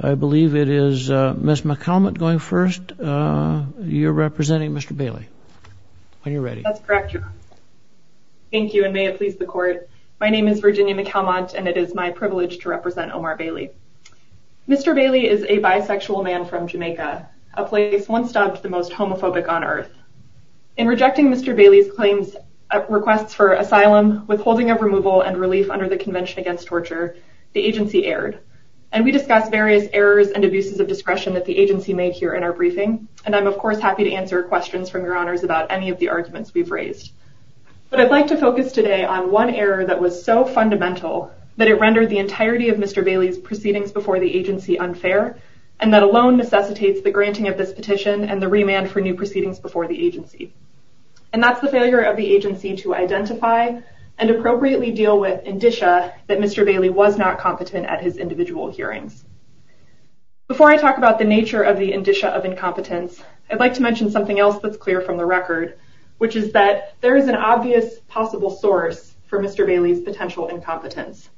I believe it is Ms. McAlmont going first. You're representing Mr. Bailey. When you're ready. That's correct. Thank you and may it please the court. My name is Virginia McAlmont and it is my privilege to represent Omar Bailey. Mr. Bailey is a bisexual man from Jamaica, a place once dubbed the most homophobic on earth. In rejecting Mr. Bailey's claims, requests for asylum, withholding of removal and relief under the Convention Against Torture, the agency erred. And we discussed various errors and abuses of discretion that the agency made here in our briefing and I'm of course happy to answer questions from your honors about any of the arguments we've raised. But I'd like to focus today on one error that was so fundamental that it rendered the entirety of Mr. Bailey's proceedings before the agency unfair and that alone necessitates the granting of this petition and the remand for new proceedings before the agency. And that's the failure of the agency to identify and appropriately deal with indicia that Mr. Bailey was not competent at his individual hearings. Before I talk about the nature of the indicia of incompetence, I'd like to mention something else that's clear from the record, which is that there is an obvious possible source for Mr. Bailey's potential incompetence.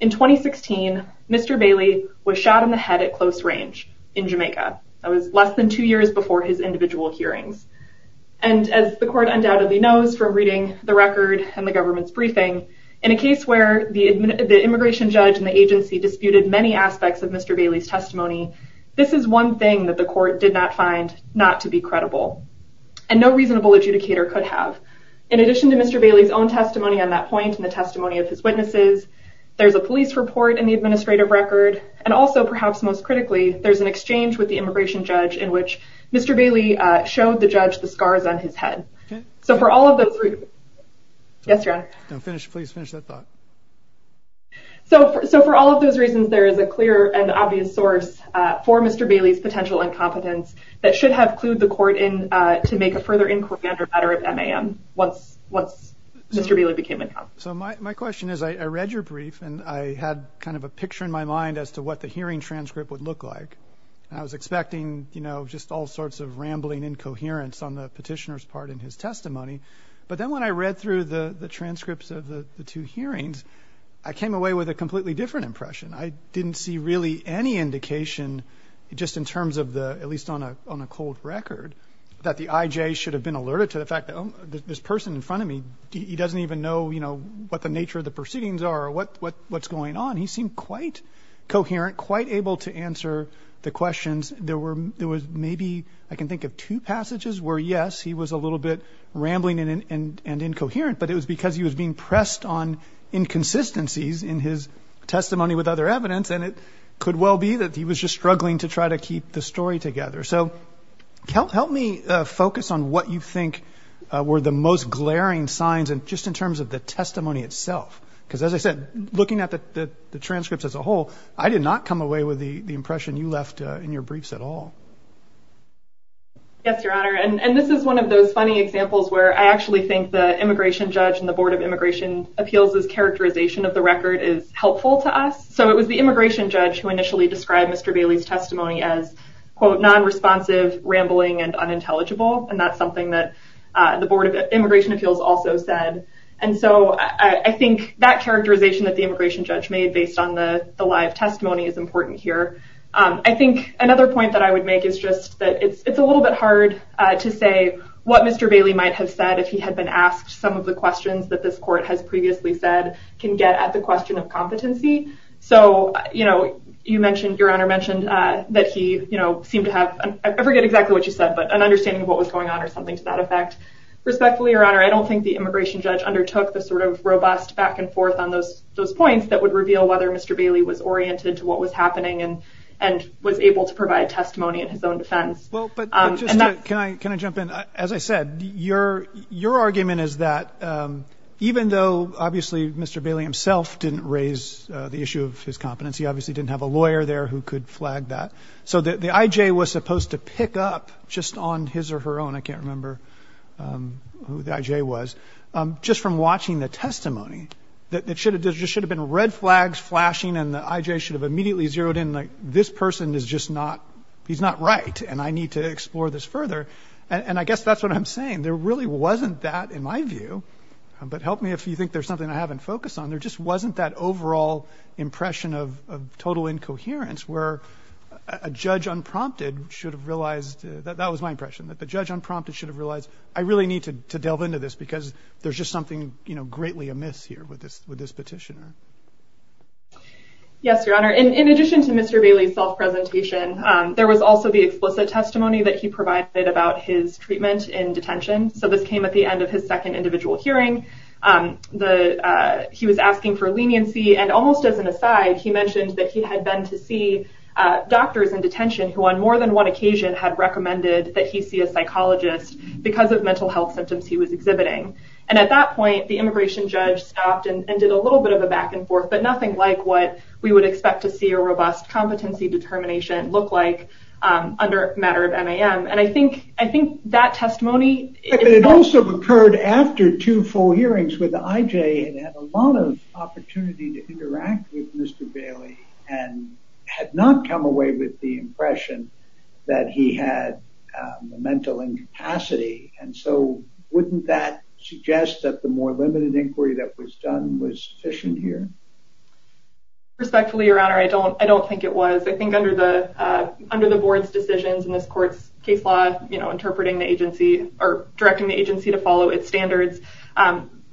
In 2016, Mr. Bailey was shot in the head at close range in Jamaica. That was less than two years before his individual hearings. And as the court undoubtedly knows from reading the record and the government's briefing, in a case where the immigration judge and the agency disputed many aspects of Mr. Bailey's testimony, this is one thing that the court did not find not to be credible. And no reasonable adjudicator could have. In addition to Mr. Bailey's own testimony on that point and the testimony of his witnesses, there's a police report in the administrative record and also perhaps most critically, there's an exchange with the immigration judge in which Mr. Bailey showed the judge the scars on his head. So for all of those reasons, there is a clear and obvious source for Mr. Bailey's potential incompetence that should have clued the court in to make a further inquiry under matter of MAM once Mr. Bailey became incompetent. So my question is, I read your brief and I had kind of a picture in my mind as to what the hearing transcript would look like. I was expecting, you know, just all sorts of rambling incoherence on the petitioner's part in his testimony. But then when I read through the I didn't see really any indication just in terms of the, at least on a cold record, that the IJ should have been alerted to the fact that this person in front of me, he doesn't even know, you know, what the nature of the proceedings are or what's going on. He seemed quite coherent, quite able to answer the questions. There was maybe, I can think of two passages where yes, he was a little bit rambling and incoherent, but it was because he was being pressed on inconsistencies in his testimony with other evidence. And it could well be that he was just struggling to try to keep the story together. So help me focus on what you think were the most glaring signs and just in terms of the testimony itself. Because as I said, looking at the transcripts as a whole, I did not come away with the impression you left in your briefs at all. Yes, Your Honor. And this is one of those funny examples where I actually think the is helpful to us. So it was the immigration judge who initially described Mr. Bailey's testimony as non-responsive, rambling, and unintelligible. And that's something that the Board of Immigration Appeals also said. And so I think that characterization that the immigration judge made based on the live testimony is important here. I think another point that I would make is just that it's a little bit hard to say what Mr. Bailey might have said if he had been asked some of the questions that this court has previously said can get at the question of competency. So, you know, you mentioned, Your Honor, mentioned that he, you know, seemed to have, I forget exactly what you said, but an understanding of what was going on or something to that effect. Respectfully, Your Honor, I don't think the immigration judge undertook the sort of robust back and forth on those points that would reveal whether Mr. Bailey was oriented to what was happening and was able to provide testimony in his own defense. Can I jump in? As I said, your argument is that even though, obviously, Mr. Bailey himself didn't raise the issue of his competency, obviously didn't have a lawyer there who could flag that, so the I.J. was supposed to pick up just on his or her own, I can't remember who the I.J. was, just from watching the testimony that there just should have been red flags flashing and the I.J. should have immediately zeroed in, like, this person is just not, he's not right, and I need to explore this further. And I guess that's what I'm saying. There really wasn't that, in my view, but help me if you think there's something I haven't focused on. There just wasn't that overall impression of total incoherence where a judge unprompted should have realized, that was my impression, that the judge unprompted should have realized, I really need to delve into this because there's just something, you know, greatly amiss here with this petitioner. Yes, Your Honor. In addition to Mr. Bailey's self-presentation, there was also the explicit testimony that he provided about his treatment in detention. So, this came at the end of his second individual hearing. He was asking for leniency, and almost as an aside, he mentioned that he had been to see doctors in detention who on more than one occasion had recommended that he see a psychologist because of mental health symptoms he was exhibiting. And at that point, the immigration judge stopped and did a little bit of a back and forth, but nothing like what we would expect to see a robust competency determination look like under a matter of MAM. And I think that testimony- It also occurred after two full hearings with the IJ, and had a lot of opportunity to interact with Mr. Bailey, and had not come away with the impression that he had a mental incapacity. And so, wouldn't that suggest that the more limited inquiry that was done was sufficient here? Respectfully, Your Honor, I don't think it was. I think under the board's decisions in this court's case law, interpreting the agency, or directing the agency to follow its standards,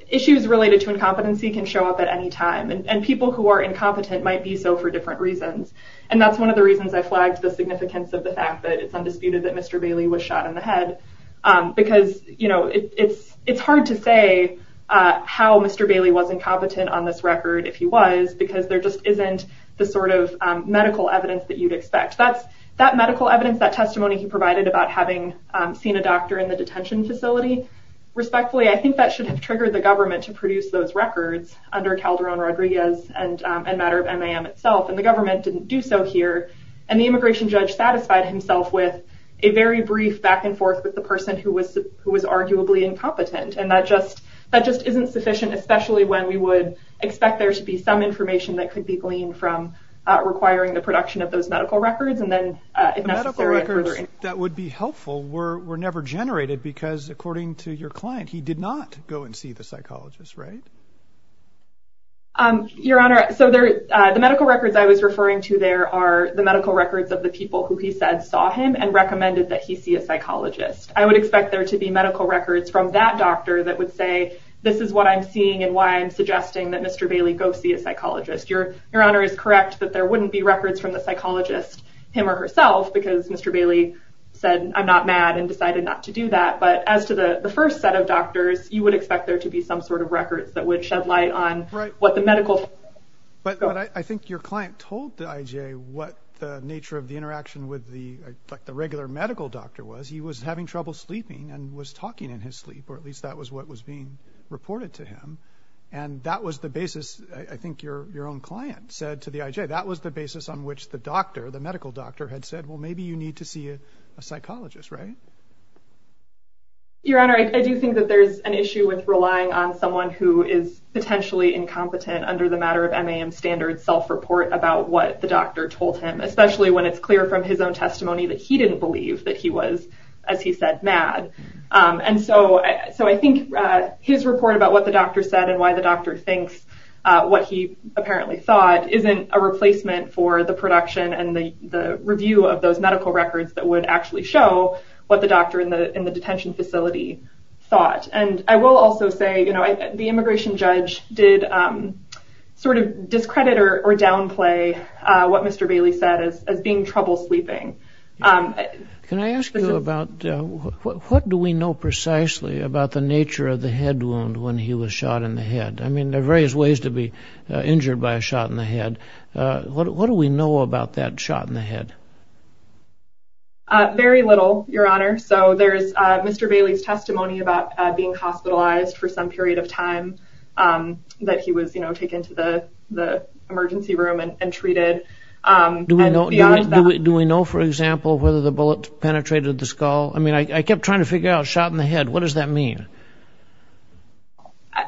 issues related to incompetency can show up at any time. And people who are incompetent might be so for different reasons. And that's one of the reasons I flagged the significance of the fact that it's undisputed that Mr. Bailey was shot in the head. Because it's hard to say how Mr. Bailey was incompetent on this record if he was, because there just isn't the sort of medical evidence that you'd expect. That medical evidence, that testimony he provided about having seen a doctor in the detention facility, respectfully, I think that should have triggered the government to produce those records under Calderon-Rodriguez and a matter of MAM itself. And the government didn't do so here. And the immigration judge satisfied himself with a very brief back and forth with the person who was arguably incompetent. And that just isn't sufficient, especially when we would expect there to be some information that could be gleaned from requiring the production of those medical records. And then if necessary... The medical records that would be helpful were never generated, because according to your client, he did not go and see the psychologist, right? Your Honor, so the medical records I was referring to there are the medical records of the people who he said saw him and recommended that he see a psychologist. I would expect there to be medical records from that doctor that would say, this is what I'm seeing and why I'm suggesting that Mr. Bailey go see a psychologist. Your Honor is correct that there wouldn't be records from the psychologist, him or herself, because Mr. Bailey said, I'm not mad and decided not to do that. But as to the first set of doctors, you would expect there to be some sort of records that would shed light on what the medical... But I think your client told the IJ what the nature of the interaction with the regular medical doctor was. He was having trouble sleeping and was talking in his sleep, or at least that was what was being reported to him. And that was the basis, I think your own client said to the IJ, that was the basis on which the doctor, the medical doctor had said, well, maybe you need to see a psychologist, right? Your Honor, I do think that there's an issue with relying on someone who is potentially incompetent under the matter of MAM standards self-report about what the doctor told him, especially when it's clear from his own testimony that he didn't believe that he was, as he said, mad. And so I think his report about what the doctor said and why the doctor thinks what he apparently thought isn't a replacement for the production and the review of those medical records that would actually show what the doctor in the detention facility thought. And I will also say, the immigration judge did sort of discredit or downplay what Mr. Bailey said as being trouble sleeping. Can I ask you about what do we know precisely about the nature of the head wound when he was shot in the head? I mean, there are various ways to be injured by a shot in the head. What do we know about that shot in the head? Very little, your Honor. So there's Mr. Bailey's testimony about being hospitalized for some period of time that he was taken to the emergency room and treated. Do we know, for example, whether the bullet penetrated the skull? I mean, I kept trying to figure out shot in the head. What does that mean?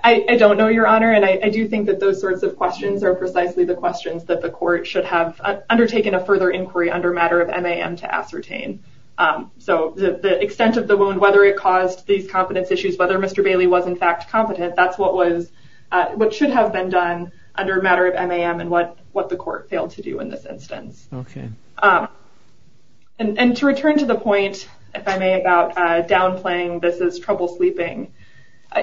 I don't know, your Honor. And I do think that those sorts of questions are precisely the questions that the court should have undertaken a further inquiry under matter of MAM to ascertain. So the extent of the wound, whether it caused these competence issues, whether Mr. Bailey was competent, that's what should have been done under matter of MAM and what the court failed to do in this instance. And to return to the point, if I may, about downplaying this as trouble sleeping,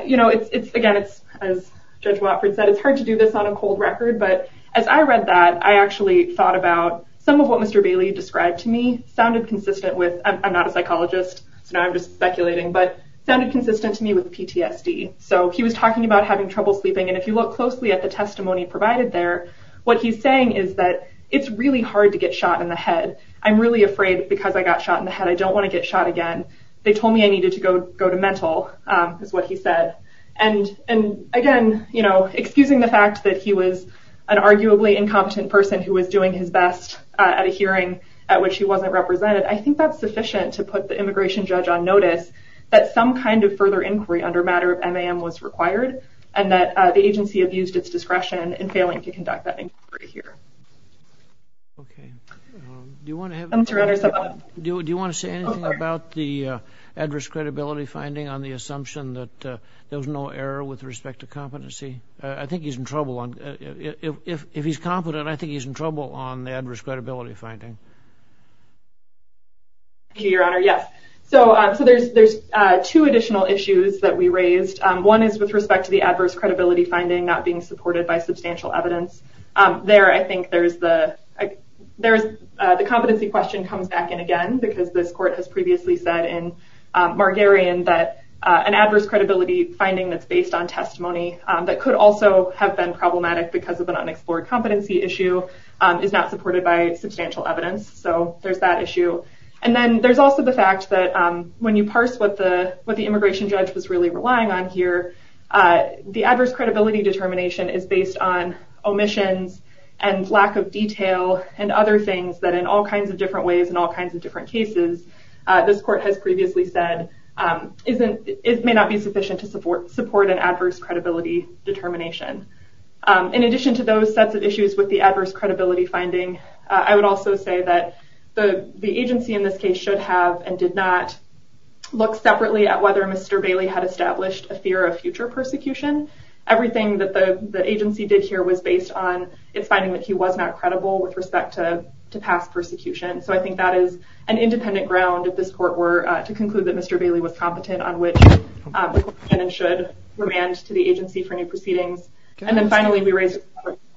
you know, again, as Judge Watford said, it's hard to do this on a cold record. But as I read that, I actually thought about some of what Mr. Bailey described to me sounded consistent with, I'm not a psychologist, so now I'm just speculating, but sounded consistent to me with PTSD. So he was talking about having trouble sleeping. And if you look closely at the testimony provided there, what he's saying is that it's really hard to get shot in the head. I'm really afraid because I got shot in the head. I don't want to get shot again. They told me I needed to go to mental, is what he said. And again, you know, excusing the fact that he was an arguably incompetent person who was doing his best at a hearing at which he wasn't represented, I think that's sufficient to put the immigration judge on notice that some kind of further inquiry under matter of MAM was required, and that the agency abused its discretion in failing to conduct that inquiry here. Okay. Do you want to have... Do you want to say anything about the adverse credibility finding on the assumption that there was no error with respect to competency? I think he's in trouble. If he's competent, I think he's in trouble on the adverse credibility finding. Thank you, Your Honor. Yes. So there's two additional issues that we raised. One is with respect to the adverse credibility finding not being supported by substantial evidence. There, I think there's the competency question comes back in again, because this court has previously said in Margarian that an adverse credibility finding that's based on testimony that could also have been problematic because of an unexplored competency issue is not supported by substantial evidence. So there's that issue. And then there's also the fact that when you parse what the immigration judge was really relying on here, the adverse credibility determination is based on omissions and lack of detail and other things that in all kinds of different ways and all kinds of different cases, this court has previously said it may not be sufficient to support an adverse credibility determination. In addition to those sets of issues with the adverse credibility finding, I would also say that the agency in this case should have and did not look separately at whether Mr. Bailey had established a fear of future persecution. Everything that the agency did here was based on its finding that he was not credible with respect to past persecution. So I think that is an independent ground if this court were to conclude that Mr. Bailey was competent on which and should remand to the agency for new proceedings. And then finally, we raise...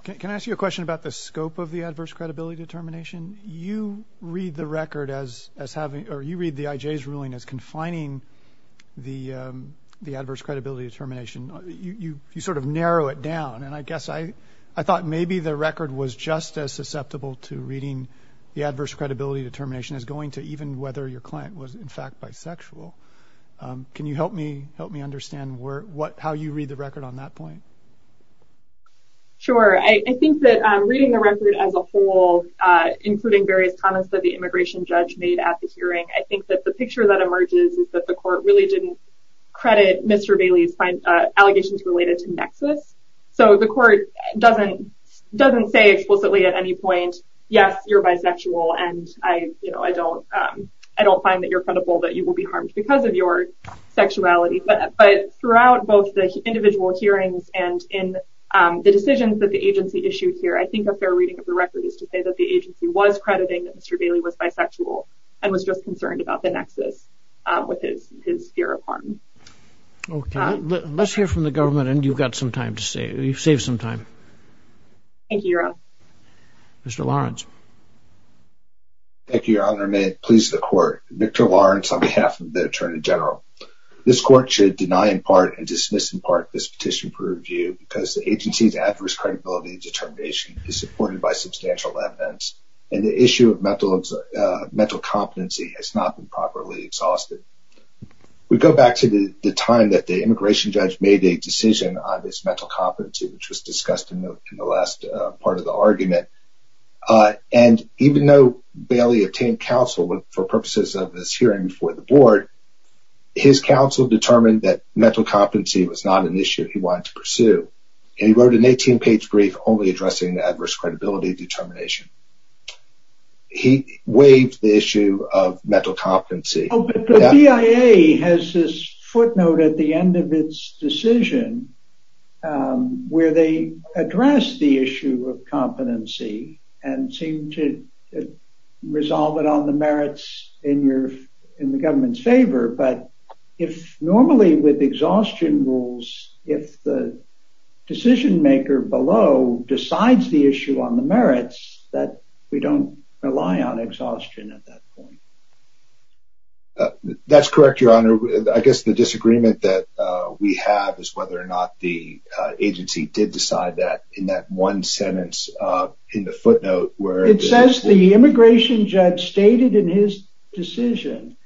Can I ask you a question about the scope of the adverse credibility determination? You read the record as having, or you read the IJ's ruling as confining the adverse credibility determination. You sort of narrow it down. And I guess I thought maybe the record was just as susceptible to reading the adverse credibility determination as going to even whether your client was in fact bisexual. Can you help me understand how you read the record on that point? Sure. I think that reading the record as a whole, including various comments that the immigration judge made at the hearing, I think that the picture that emerges is that the court really didn't credit Mr. Bailey's allegations related to nexus. So the court doesn't say explicitly at any point, yes, you're bisexual. And I don't find that you're credible that you will be harmed because of your sexuality. But throughout both the individual hearings and in the decisions that the agency issued here, I think a fair reading of the record is to say that the agency was crediting that Mr. Bailey was bisexual and was just concerned about the nexus with his fear of harm. Okay. Let's hear from the government and you've got some time to save. You've saved some time. Thank you, Your Honor. Mr. Lawrence. Thank you, Your Honor. And may it please the attorney general. This court should deny in part and dismiss in part this petition for review because the agency's adverse credibility determination is supported by substantial evidence and the issue of mental competency has not been properly exhausted. We go back to the time that the immigration judge made a decision on this mental competency, which was discussed in the last part of the argument. And even though Bailey obtained counsel for purposes of this board, his counsel determined that mental competency was not an issue he wanted to pursue. And he wrote an 18-page brief only addressing the adverse credibility determination. He waived the issue of mental competency. Oh, but the BIA has this footnote at the end of its decision where they address the issue of competency and seem to resolve it on the merits in your, in the government's favor. But if normally with exhaustion rules, if the decision maker below decides the issue on the merits that we don't rely on exhaustion at that point. That's correct, Your Honor. I guess the disagreement that we have is whether or not the agency did decide that in that one sentence in the footnote where it says the immigration judge stated in his decision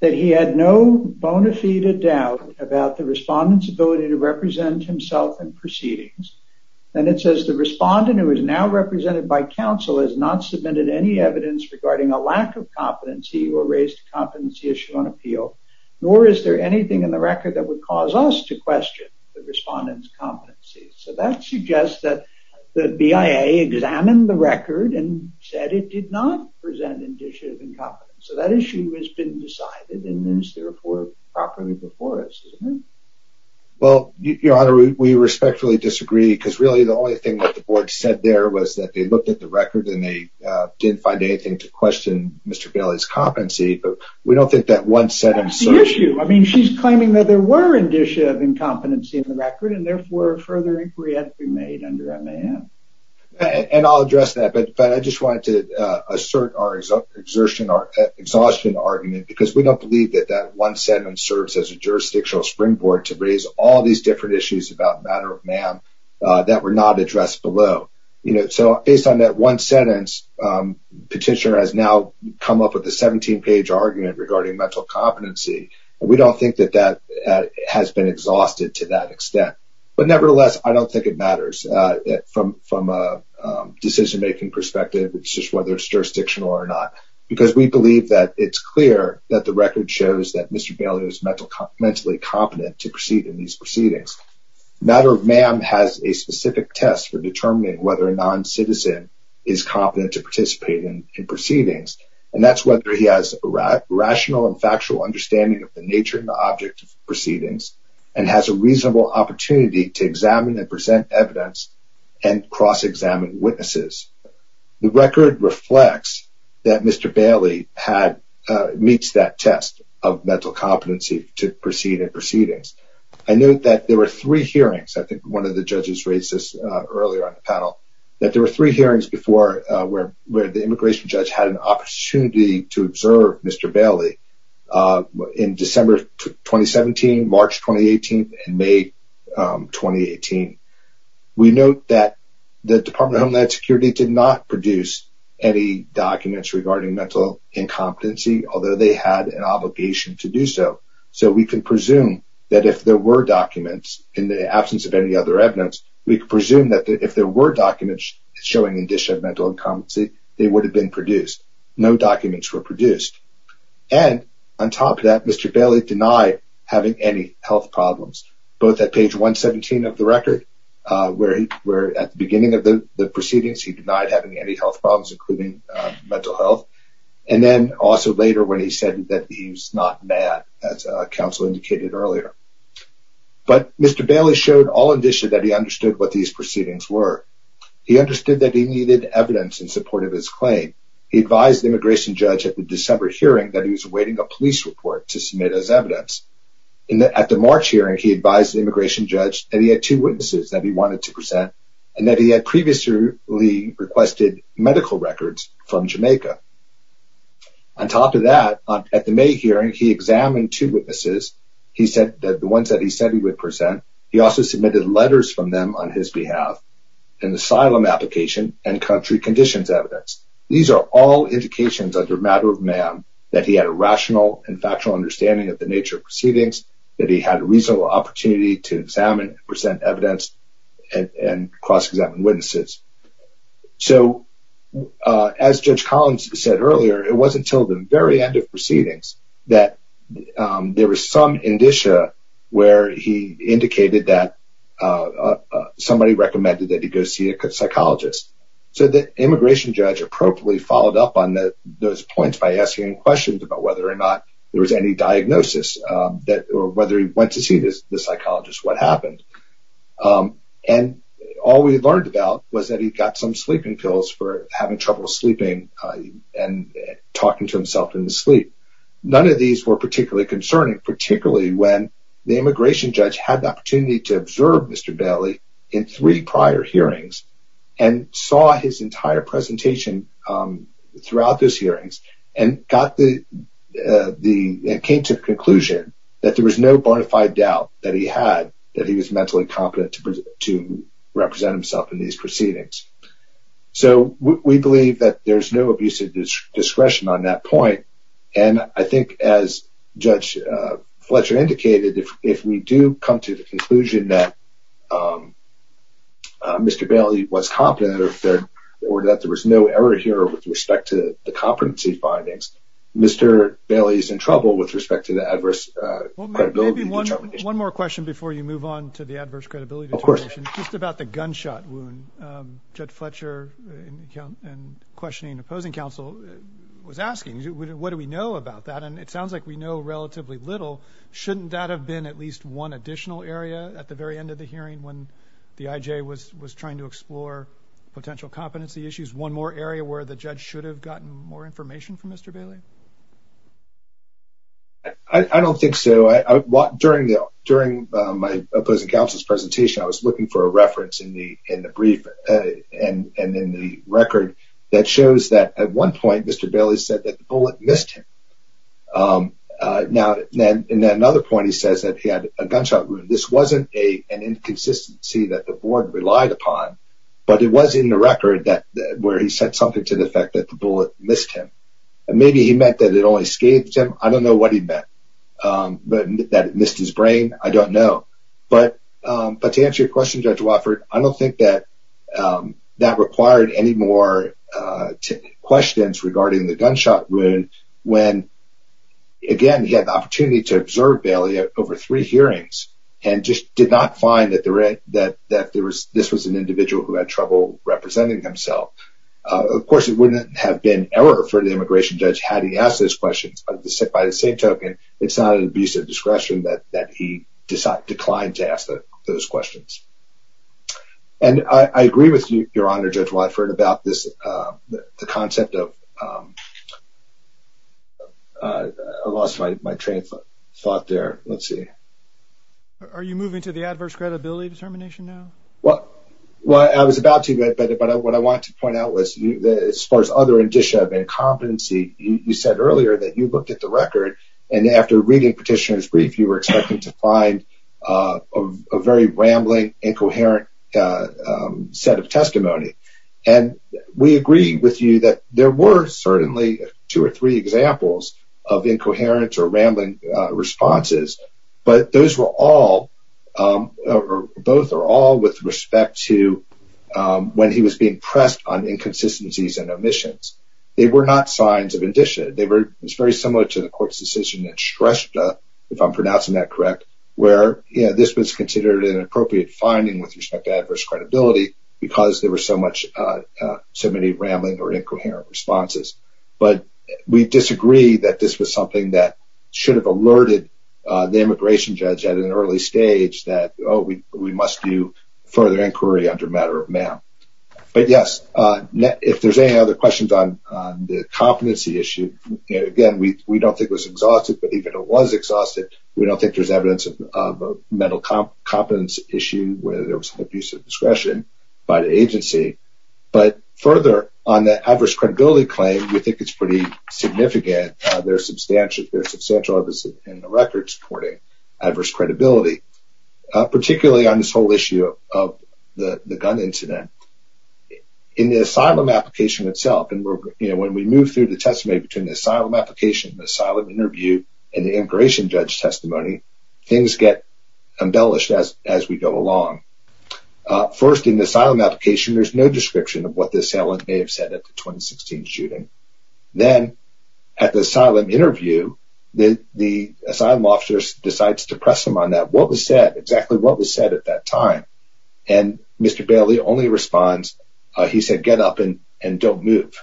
that he had no bona fide doubt about the respondent's ability to represent himself in proceedings. And it says the respondent who is now represented by counsel has not submitted any evidence regarding a lack of competency or raised a competency issue on appeal, nor is there anything in the record that would cause us to question the respondent's competency. So that suggests that the BIA examined the record and said it did not present indicia of incompetence. So that issue has been decided and is therefore properly before us. Well, Your Honor, we respectfully disagree because really the only thing that the board said there was that they looked at the record and they didn't find anything to question Mr. Bailey's competency, but we don't think that one sentence. I mean, she's claiming that there were indicia of incompetency in the inquiry that had to be made under MAM. And I'll address that, but I just wanted to assert our exhaustion argument because we don't believe that that one sentence serves as a jurisdictional springboard to raise all these different issues about matter of MAM that were not addressed below. You know, so based on that one sentence, petitioner has now come up with a 17-page argument regarding mental competency. We don't think that that has been exhausted to that extent. But nevertheless, I don't think it matters from a decision-making perspective. It's just whether it's jurisdictional or not, because we believe that it's clear that the record shows that Mr. Bailey is mentally competent to proceed in these proceedings. Matter of MAM has a specific test for determining whether a non-citizen is competent to participate in proceedings, and that's whether he has a rational and factual understanding of the nature and the object of proceedings and has a opportunity to examine and present evidence and cross-examine witnesses. The record reflects that Mr. Bailey meets that test of mental competency to proceed in proceedings. I note that there were three hearings, I think one of the judges raised this earlier on the panel, that there were three hearings before where the immigration judge had an opportunity to observe Mr. Bailey in December 2017, March 2018, and May 2018. We note that the Department of Homeland Security did not produce any documents regarding mental incompetency, although they had an obligation to do so. So we can presume that if there were documents, in the absence of any other evidence, we could presume that if there were documents showing indicia of mental incompetency, they would have produced. No documents were produced. And on top of that, Mr. Bailey denied having any health problems, both at page 117 of the record, where at the beginning of the proceedings he denied having any health problems, including mental health, and then also later when he said that he was not mad, as counsel indicated earlier. But Mr. Bailey showed all indicia that he understood what he advised the immigration judge at the December hearing that he was awaiting a police report to submit as evidence. At the March hearing, he advised the immigration judge that he had two witnesses that he wanted to present, and that he had previously requested medical records from Jamaica. On top of that, at the May hearing, he examined two witnesses, the ones that he said he would present. He also submitted letters from them on his behalf, an asylum application, and country conditions evidence. These are all indications under matter of man that he had a rational and factual understanding of the nature of proceedings, that he had a reasonable opportunity to examine, present evidence, and cross-examine witnesses. So, as Judge Collins said earlier, it wasn't until the very end of proceedings that there was some indicia where he indicated that somebody recommended that he go see a psychologist. So, the immigration judge appropriately followed up on those points by asking him questions about whether or not there was any diagnosis, or whether he went to see the psychologist, what happened. And all we learned about was that he got some sleeping pills for having trouble sleeping and talking to himself in his sleep. None of these were particularly concerning, particularly when the immigration judge had the opportunity to in three prior hearings, and saw his entire presentation throughout those hearings, and came to the conclusion that there was no bona fide doubt that he had that he was mentally competent to represent himself in these proceedings. So, we believe that there's no abuse of discretion on that point, and I think as Judge Fletcher indicated, if we do come to the conclusion that Mr. Bailey was competent, or that there was no error here with respect to the competency findings, Mr. Bailey is in trouble with respect to the adverse credibility determination. One more question before you move on to the adverse credibility determination. Of course. Just about the gunshot wound. Judge Fletcher, in questioning and opposing counsel, was asking, what do we know about that? And it sounds like we know relatively little. Shouldn't that have been at least one additional area at the very end of the hearing when the IJ was trying to explore potential competency issues? One more area where the judge should have gotten more information from Mr. Bailey? I don't think so. During my opposing counsel's presentation, I was looking for a reference in the brief and in the record that shows that at one point, Mr. Bailey said that the bullet missed him. In another point, he says that he had a gunshot wound. This wasn't an inconsistency that the board relied upon, but it was in the record where he said something to the effect that the bullet missed him. Maybe he meant that it only scathed him. I don't know what he meant. But that it missed his brain? I don't know. But to answer your question, Judge Wofford, I don't think that required any more questions regarding the gunshot wound when, again, he had the opportunity to observe Bailey over three hearings and just did not find that this was an individual who had trouble representing himself. Of course, it wouldn't have been an error for the immigration judge had he asked those questions. But by the same token, it's not an error to ask those questions. And I agree with you, Your Honor, Judge Wofford, about the concept of... I lost my train of thought there. Let's see. Are you moving to the adverse credibility determination now? Well, I was about to, but what I wanted to point out was, as far as other indicia of incompetency, you said earlier that you looked at the record and after reading Petitioner's brief, you were expecting to find a very rambling, incoherent set of testimony. And we agree with you that there were certainly two or three examples of incoherent or rambling responses, but those were all, or both are all, with respect to when he was being pressed on inconsistencies and omissions. They were not signs of indicia. It's very similar to the court's decision that stressed, if I'm pronouncing that correct, where this was considered an appropriate finding with respect to adverse credibility because there were so many rambling or incoherent responses. But we disagree that this was something that should have alerted the immigration judge at an early stage that, oh, we must do further inquiry under a matter of mail. But yes, if there's any other questions on the competency issue, again, we don't think it was exhaustive, but even if it was exhaustive, we don't think there's evidence of a mental competence issue where there was an abuse of discretion by the agency. But further, on the adverse credibility claim, we think it's pretty significant. There's substantial evidence in the record supporting adverse credibility, particularly on this whole between the asylum application, the asylum interview, and the immigration judge testimony. Things get embellished as we go along. First, in the asylum application, there's no description of what the assailant may have said at the 2016 shooting. Then, at the asylum interview, the asylum officer decides to press him on that, what was said, exactly what was said at that time. Mr. Bailey only responds, he said, get up and don't move.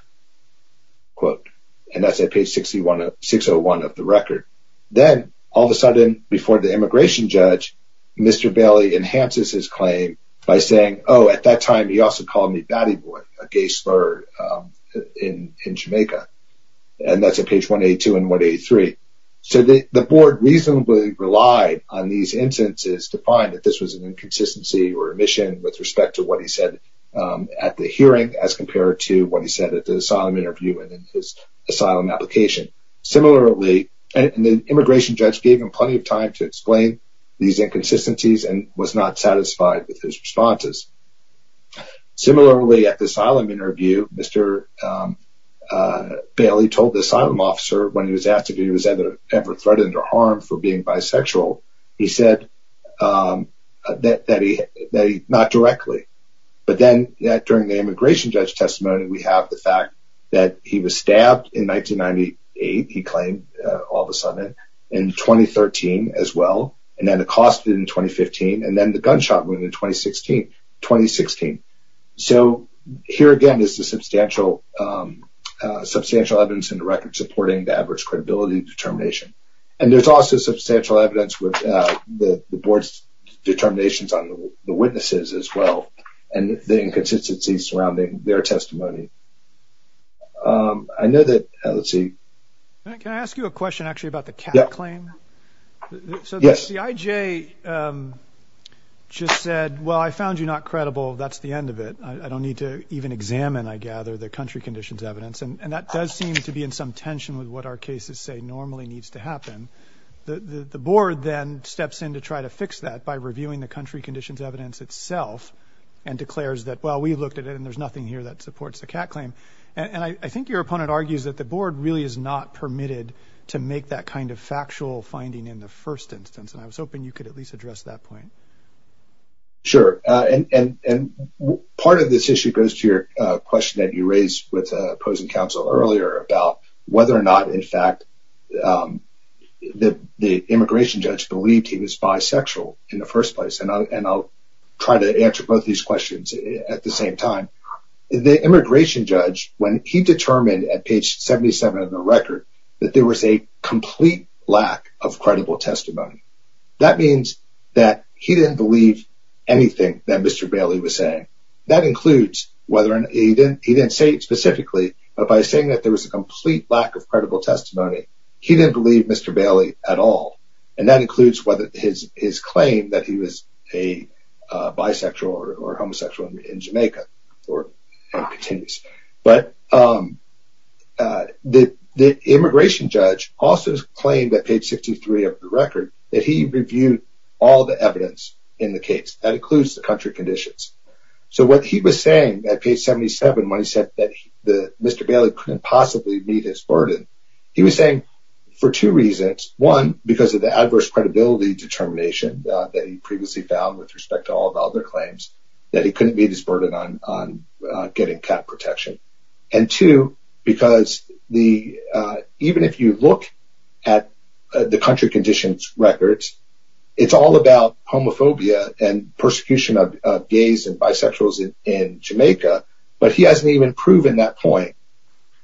And that's at page 601 of the record. Then, all of a sudden, before the immigration judge, Mr. Bailey enhances his claim by saying, oh, at that time, he also called me batty boy, a gay slur in Jamaica. And that's at page 182 and 183. So, the board reasonably relied on these instances to find that this was an inconsistency or omission with respect to what he said at the hearing as compared to what he said at the asylum interview and in his asylum application. Similarly, the immigration judge gave him plenty of time to explain these inconsistencies and was not satisfied with his responses. Similarly, at the asylum interview, he said that he was never threatened or harmed for being bisexual. He said that not directly. But then, during the immigration judge testimony, we have the fact that he was stabbed in 1998, he claimed, all of a sudden, in 2013 as well. And then, accosted in 2015. And then, the gunshot wound in 2016. So, here, again, is the substantial evidence in the record supporting the average credibility determination. And there's also substantial evidence with the board's determinations on the witnesses as well. And the inconsistencies surrounding their testimony. I know that, let's see. Can I ask you a question, actually, about the cat claim? So, the CIJ just said, well, I found you not credible. That's the end of it. I don't need to even examine, I gather, the country conditions evidence. And that does seem to be in some what our cases say normally needs to happen. The board then steps in to try to fix that by reviewing the country conditions evidence itself and declares that, well, we looked at it and there's nothing here that supports the cat claim. And I think your opponent argues that the board really is not permitted to make that kind of factual finding in the first instance. And I was hoping you could at least address that point. Sure. And part of this issue goes to your question that you raised with opposing counsel earlier about whether or not, in fact, the immigration judge believed he was bisexual in the first place. And I'll try to answer both these questions at the same time. The immigration judge, when he determined at page 77 of the record that there was a complete lack of credible testimony, that means that he didn't believe anything that Mr. Bailey was saying. That includes whether he didn't say it specifically, but by saying that there was a complete lack of credible testimony, he didn't believe Mr. Bailey at all. And that includes whether his claim that he was a bisexual or homosexual in Jamaica. But the immigration judge also claimed at page 63 of the record that he reviewed all the evidence in the case. That includes the country conditions. So what he was saying at page 77, when he said that Mr. Bailey couldn't possibly meet his burden, he was saying for two reasons. One, because of the adverse credibility determination that he previously found with respect to all of other claims, that he couldn't meet his burden on getting cat protection. And two, because even if you look at the country conditions records, it's all about homophobia and persecution of gays and bisexuals in Jamaica, but he hasn't even proven that point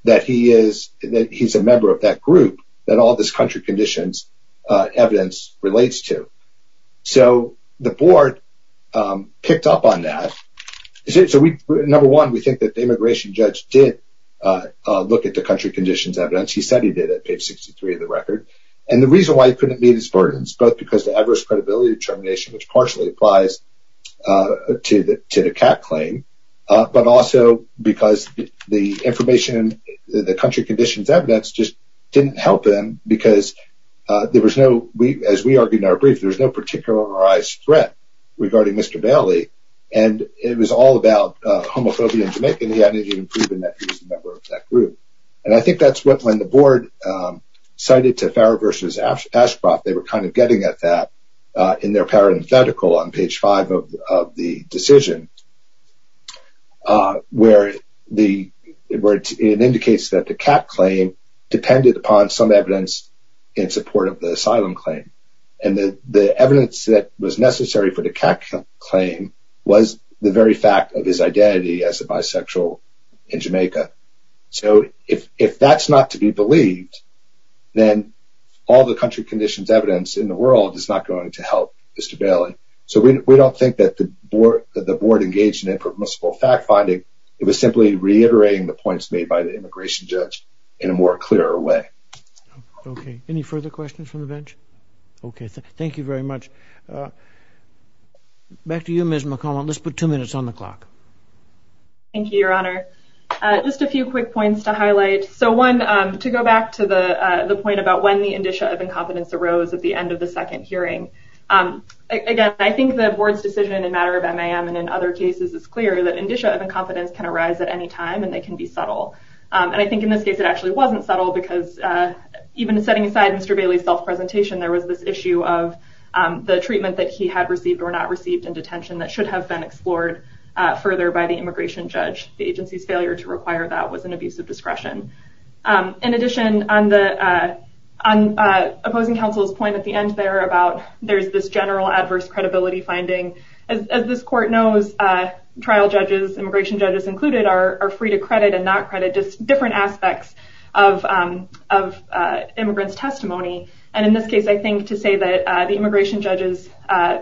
that he's a member of that group that all this country conditions evidence relates to. So the board picked up on that. Number one, we think that the immigration judge did look at the country conditions evidence. He said he did at page 63 of the record. And the reason why he couldn't meet his burdens, both because the adverse credibility determination, which partially applies to the cat claim, but also because the information, the country conditions evidence just didn't help him because there was no, as we argued in our brief, there was no particularized threat regarding Mr. Bailey. And it was all about homophobia in Jamaica, and he hadn't even proven that he was a member of that group. And I think that's what, when the board cited to Farah versus Ashcroft, they were kind of getting at that in their parenthetical on page five of the decision, where it indicates that the cat claim depended upon some evidence in support of the asylum claim. And the evidence that was necessary for the cat claim was the very fact of his identity as a bisexual in Jamaica. So if that's not to be believed, then all the country conditions evidence in the world is not going to help Mr. Bailey. So we don't think that the board engaged in a permissible fact finding. It was simply reiterating the points made by the immigration judge in a more clear way. Okay. Any further questions from the bench? Okay. Thank you very much. Back to you, Ms. McCollum. Let's put two minutes on the clock. Thank you, Your Honor. Just a few quick points to highlight. So one, to go back to the point about when the indicia of incompetence arose at the end of the second hearing. Again, I think the board's decision in a matter of MAM and in other cases is clear that indicia of incompetence can arise at any time and they can be subtle. And I think in this case, it actually wasn't subtle because even setting aside Mr. Bailey's self-presentation, there was this issue of the treatment that he had received or not received in detention that should have been explored further by the immigration judge. The agency's failure to require that was an abuse of discretion. In addition, on opposing counsel's point at the end there about there's this general adverse credibility finding. As this court knows, trial judges, immigration judges included, are free to different aspects of immigrant's testimony. And in this case, I think to say that the immigration judge's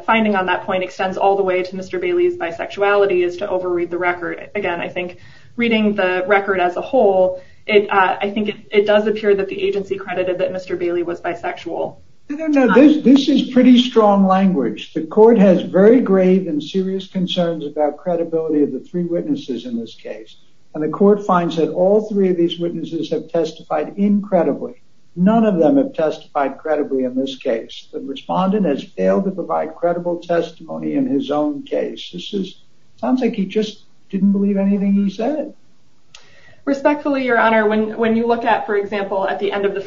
finding on that point extends all the way to Mr. Bailey's bisexuality is to overread the record. Again, I think reading the record as a whole, I think it does appear that the agency credited that Mr. Bailey was bisexual. No, no, no. This is pretty strong language. The court has very grave and serious concerns about credibility of the three witnesses in this case. The court finds that all three of these witnesses have testified incredibly. None of them have testified credibly in this case. The respondent has failed to provide credible testimony in his own case. This is, sounds like he just didn't believe anything he said. Respectfully, your honor, when you look at, for example, at the end of the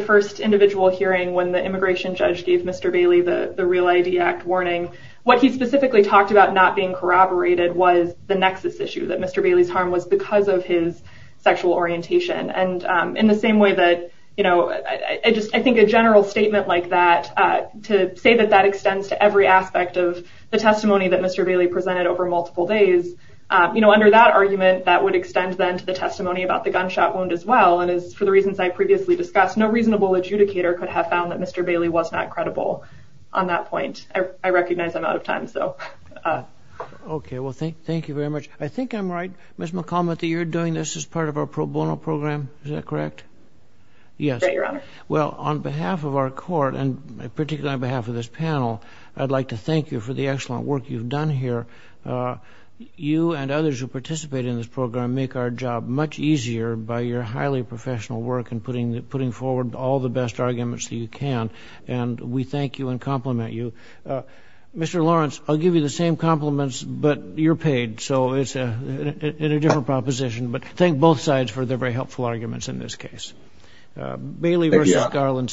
first individual hearing when the immigration judge gave Mr. Bailey the Real ID Act warning, what he specifically talked about not being corroborated was the nexus issue that Mr. Bailey's harm was because of his sexual orientation. And in the same way that, you know, I just, I think a general statement like that to say that that extends to every aspect of the testimony that Mr. Bailey presented over multiple days, you know, under that argument, that would extend then to the testimony about the gunshot wound as well. And as for the reasons I previously discussed, no reasonable adjudicator could have found that Mr. Bailey was not credible on that point. I recognize I'm out of time. So okay. Well, thank, thank you very much. I think I'm right, Ms. McCormick, that you're doing this as part of our pro bono program. Is that correct? Yes. Well, on behalf of our court and particularly on behalf of this panel, I'd like to thank you for the excellent work you've done here. You and others who participate in this program make our job much easier by your highly professional work and putting, putting forward all the best arguments that you can. And we thank you and but you're paid. So it's a different proposition, but thank both sides for their very helpful arguments in this case. Bailey versus Garland submitted.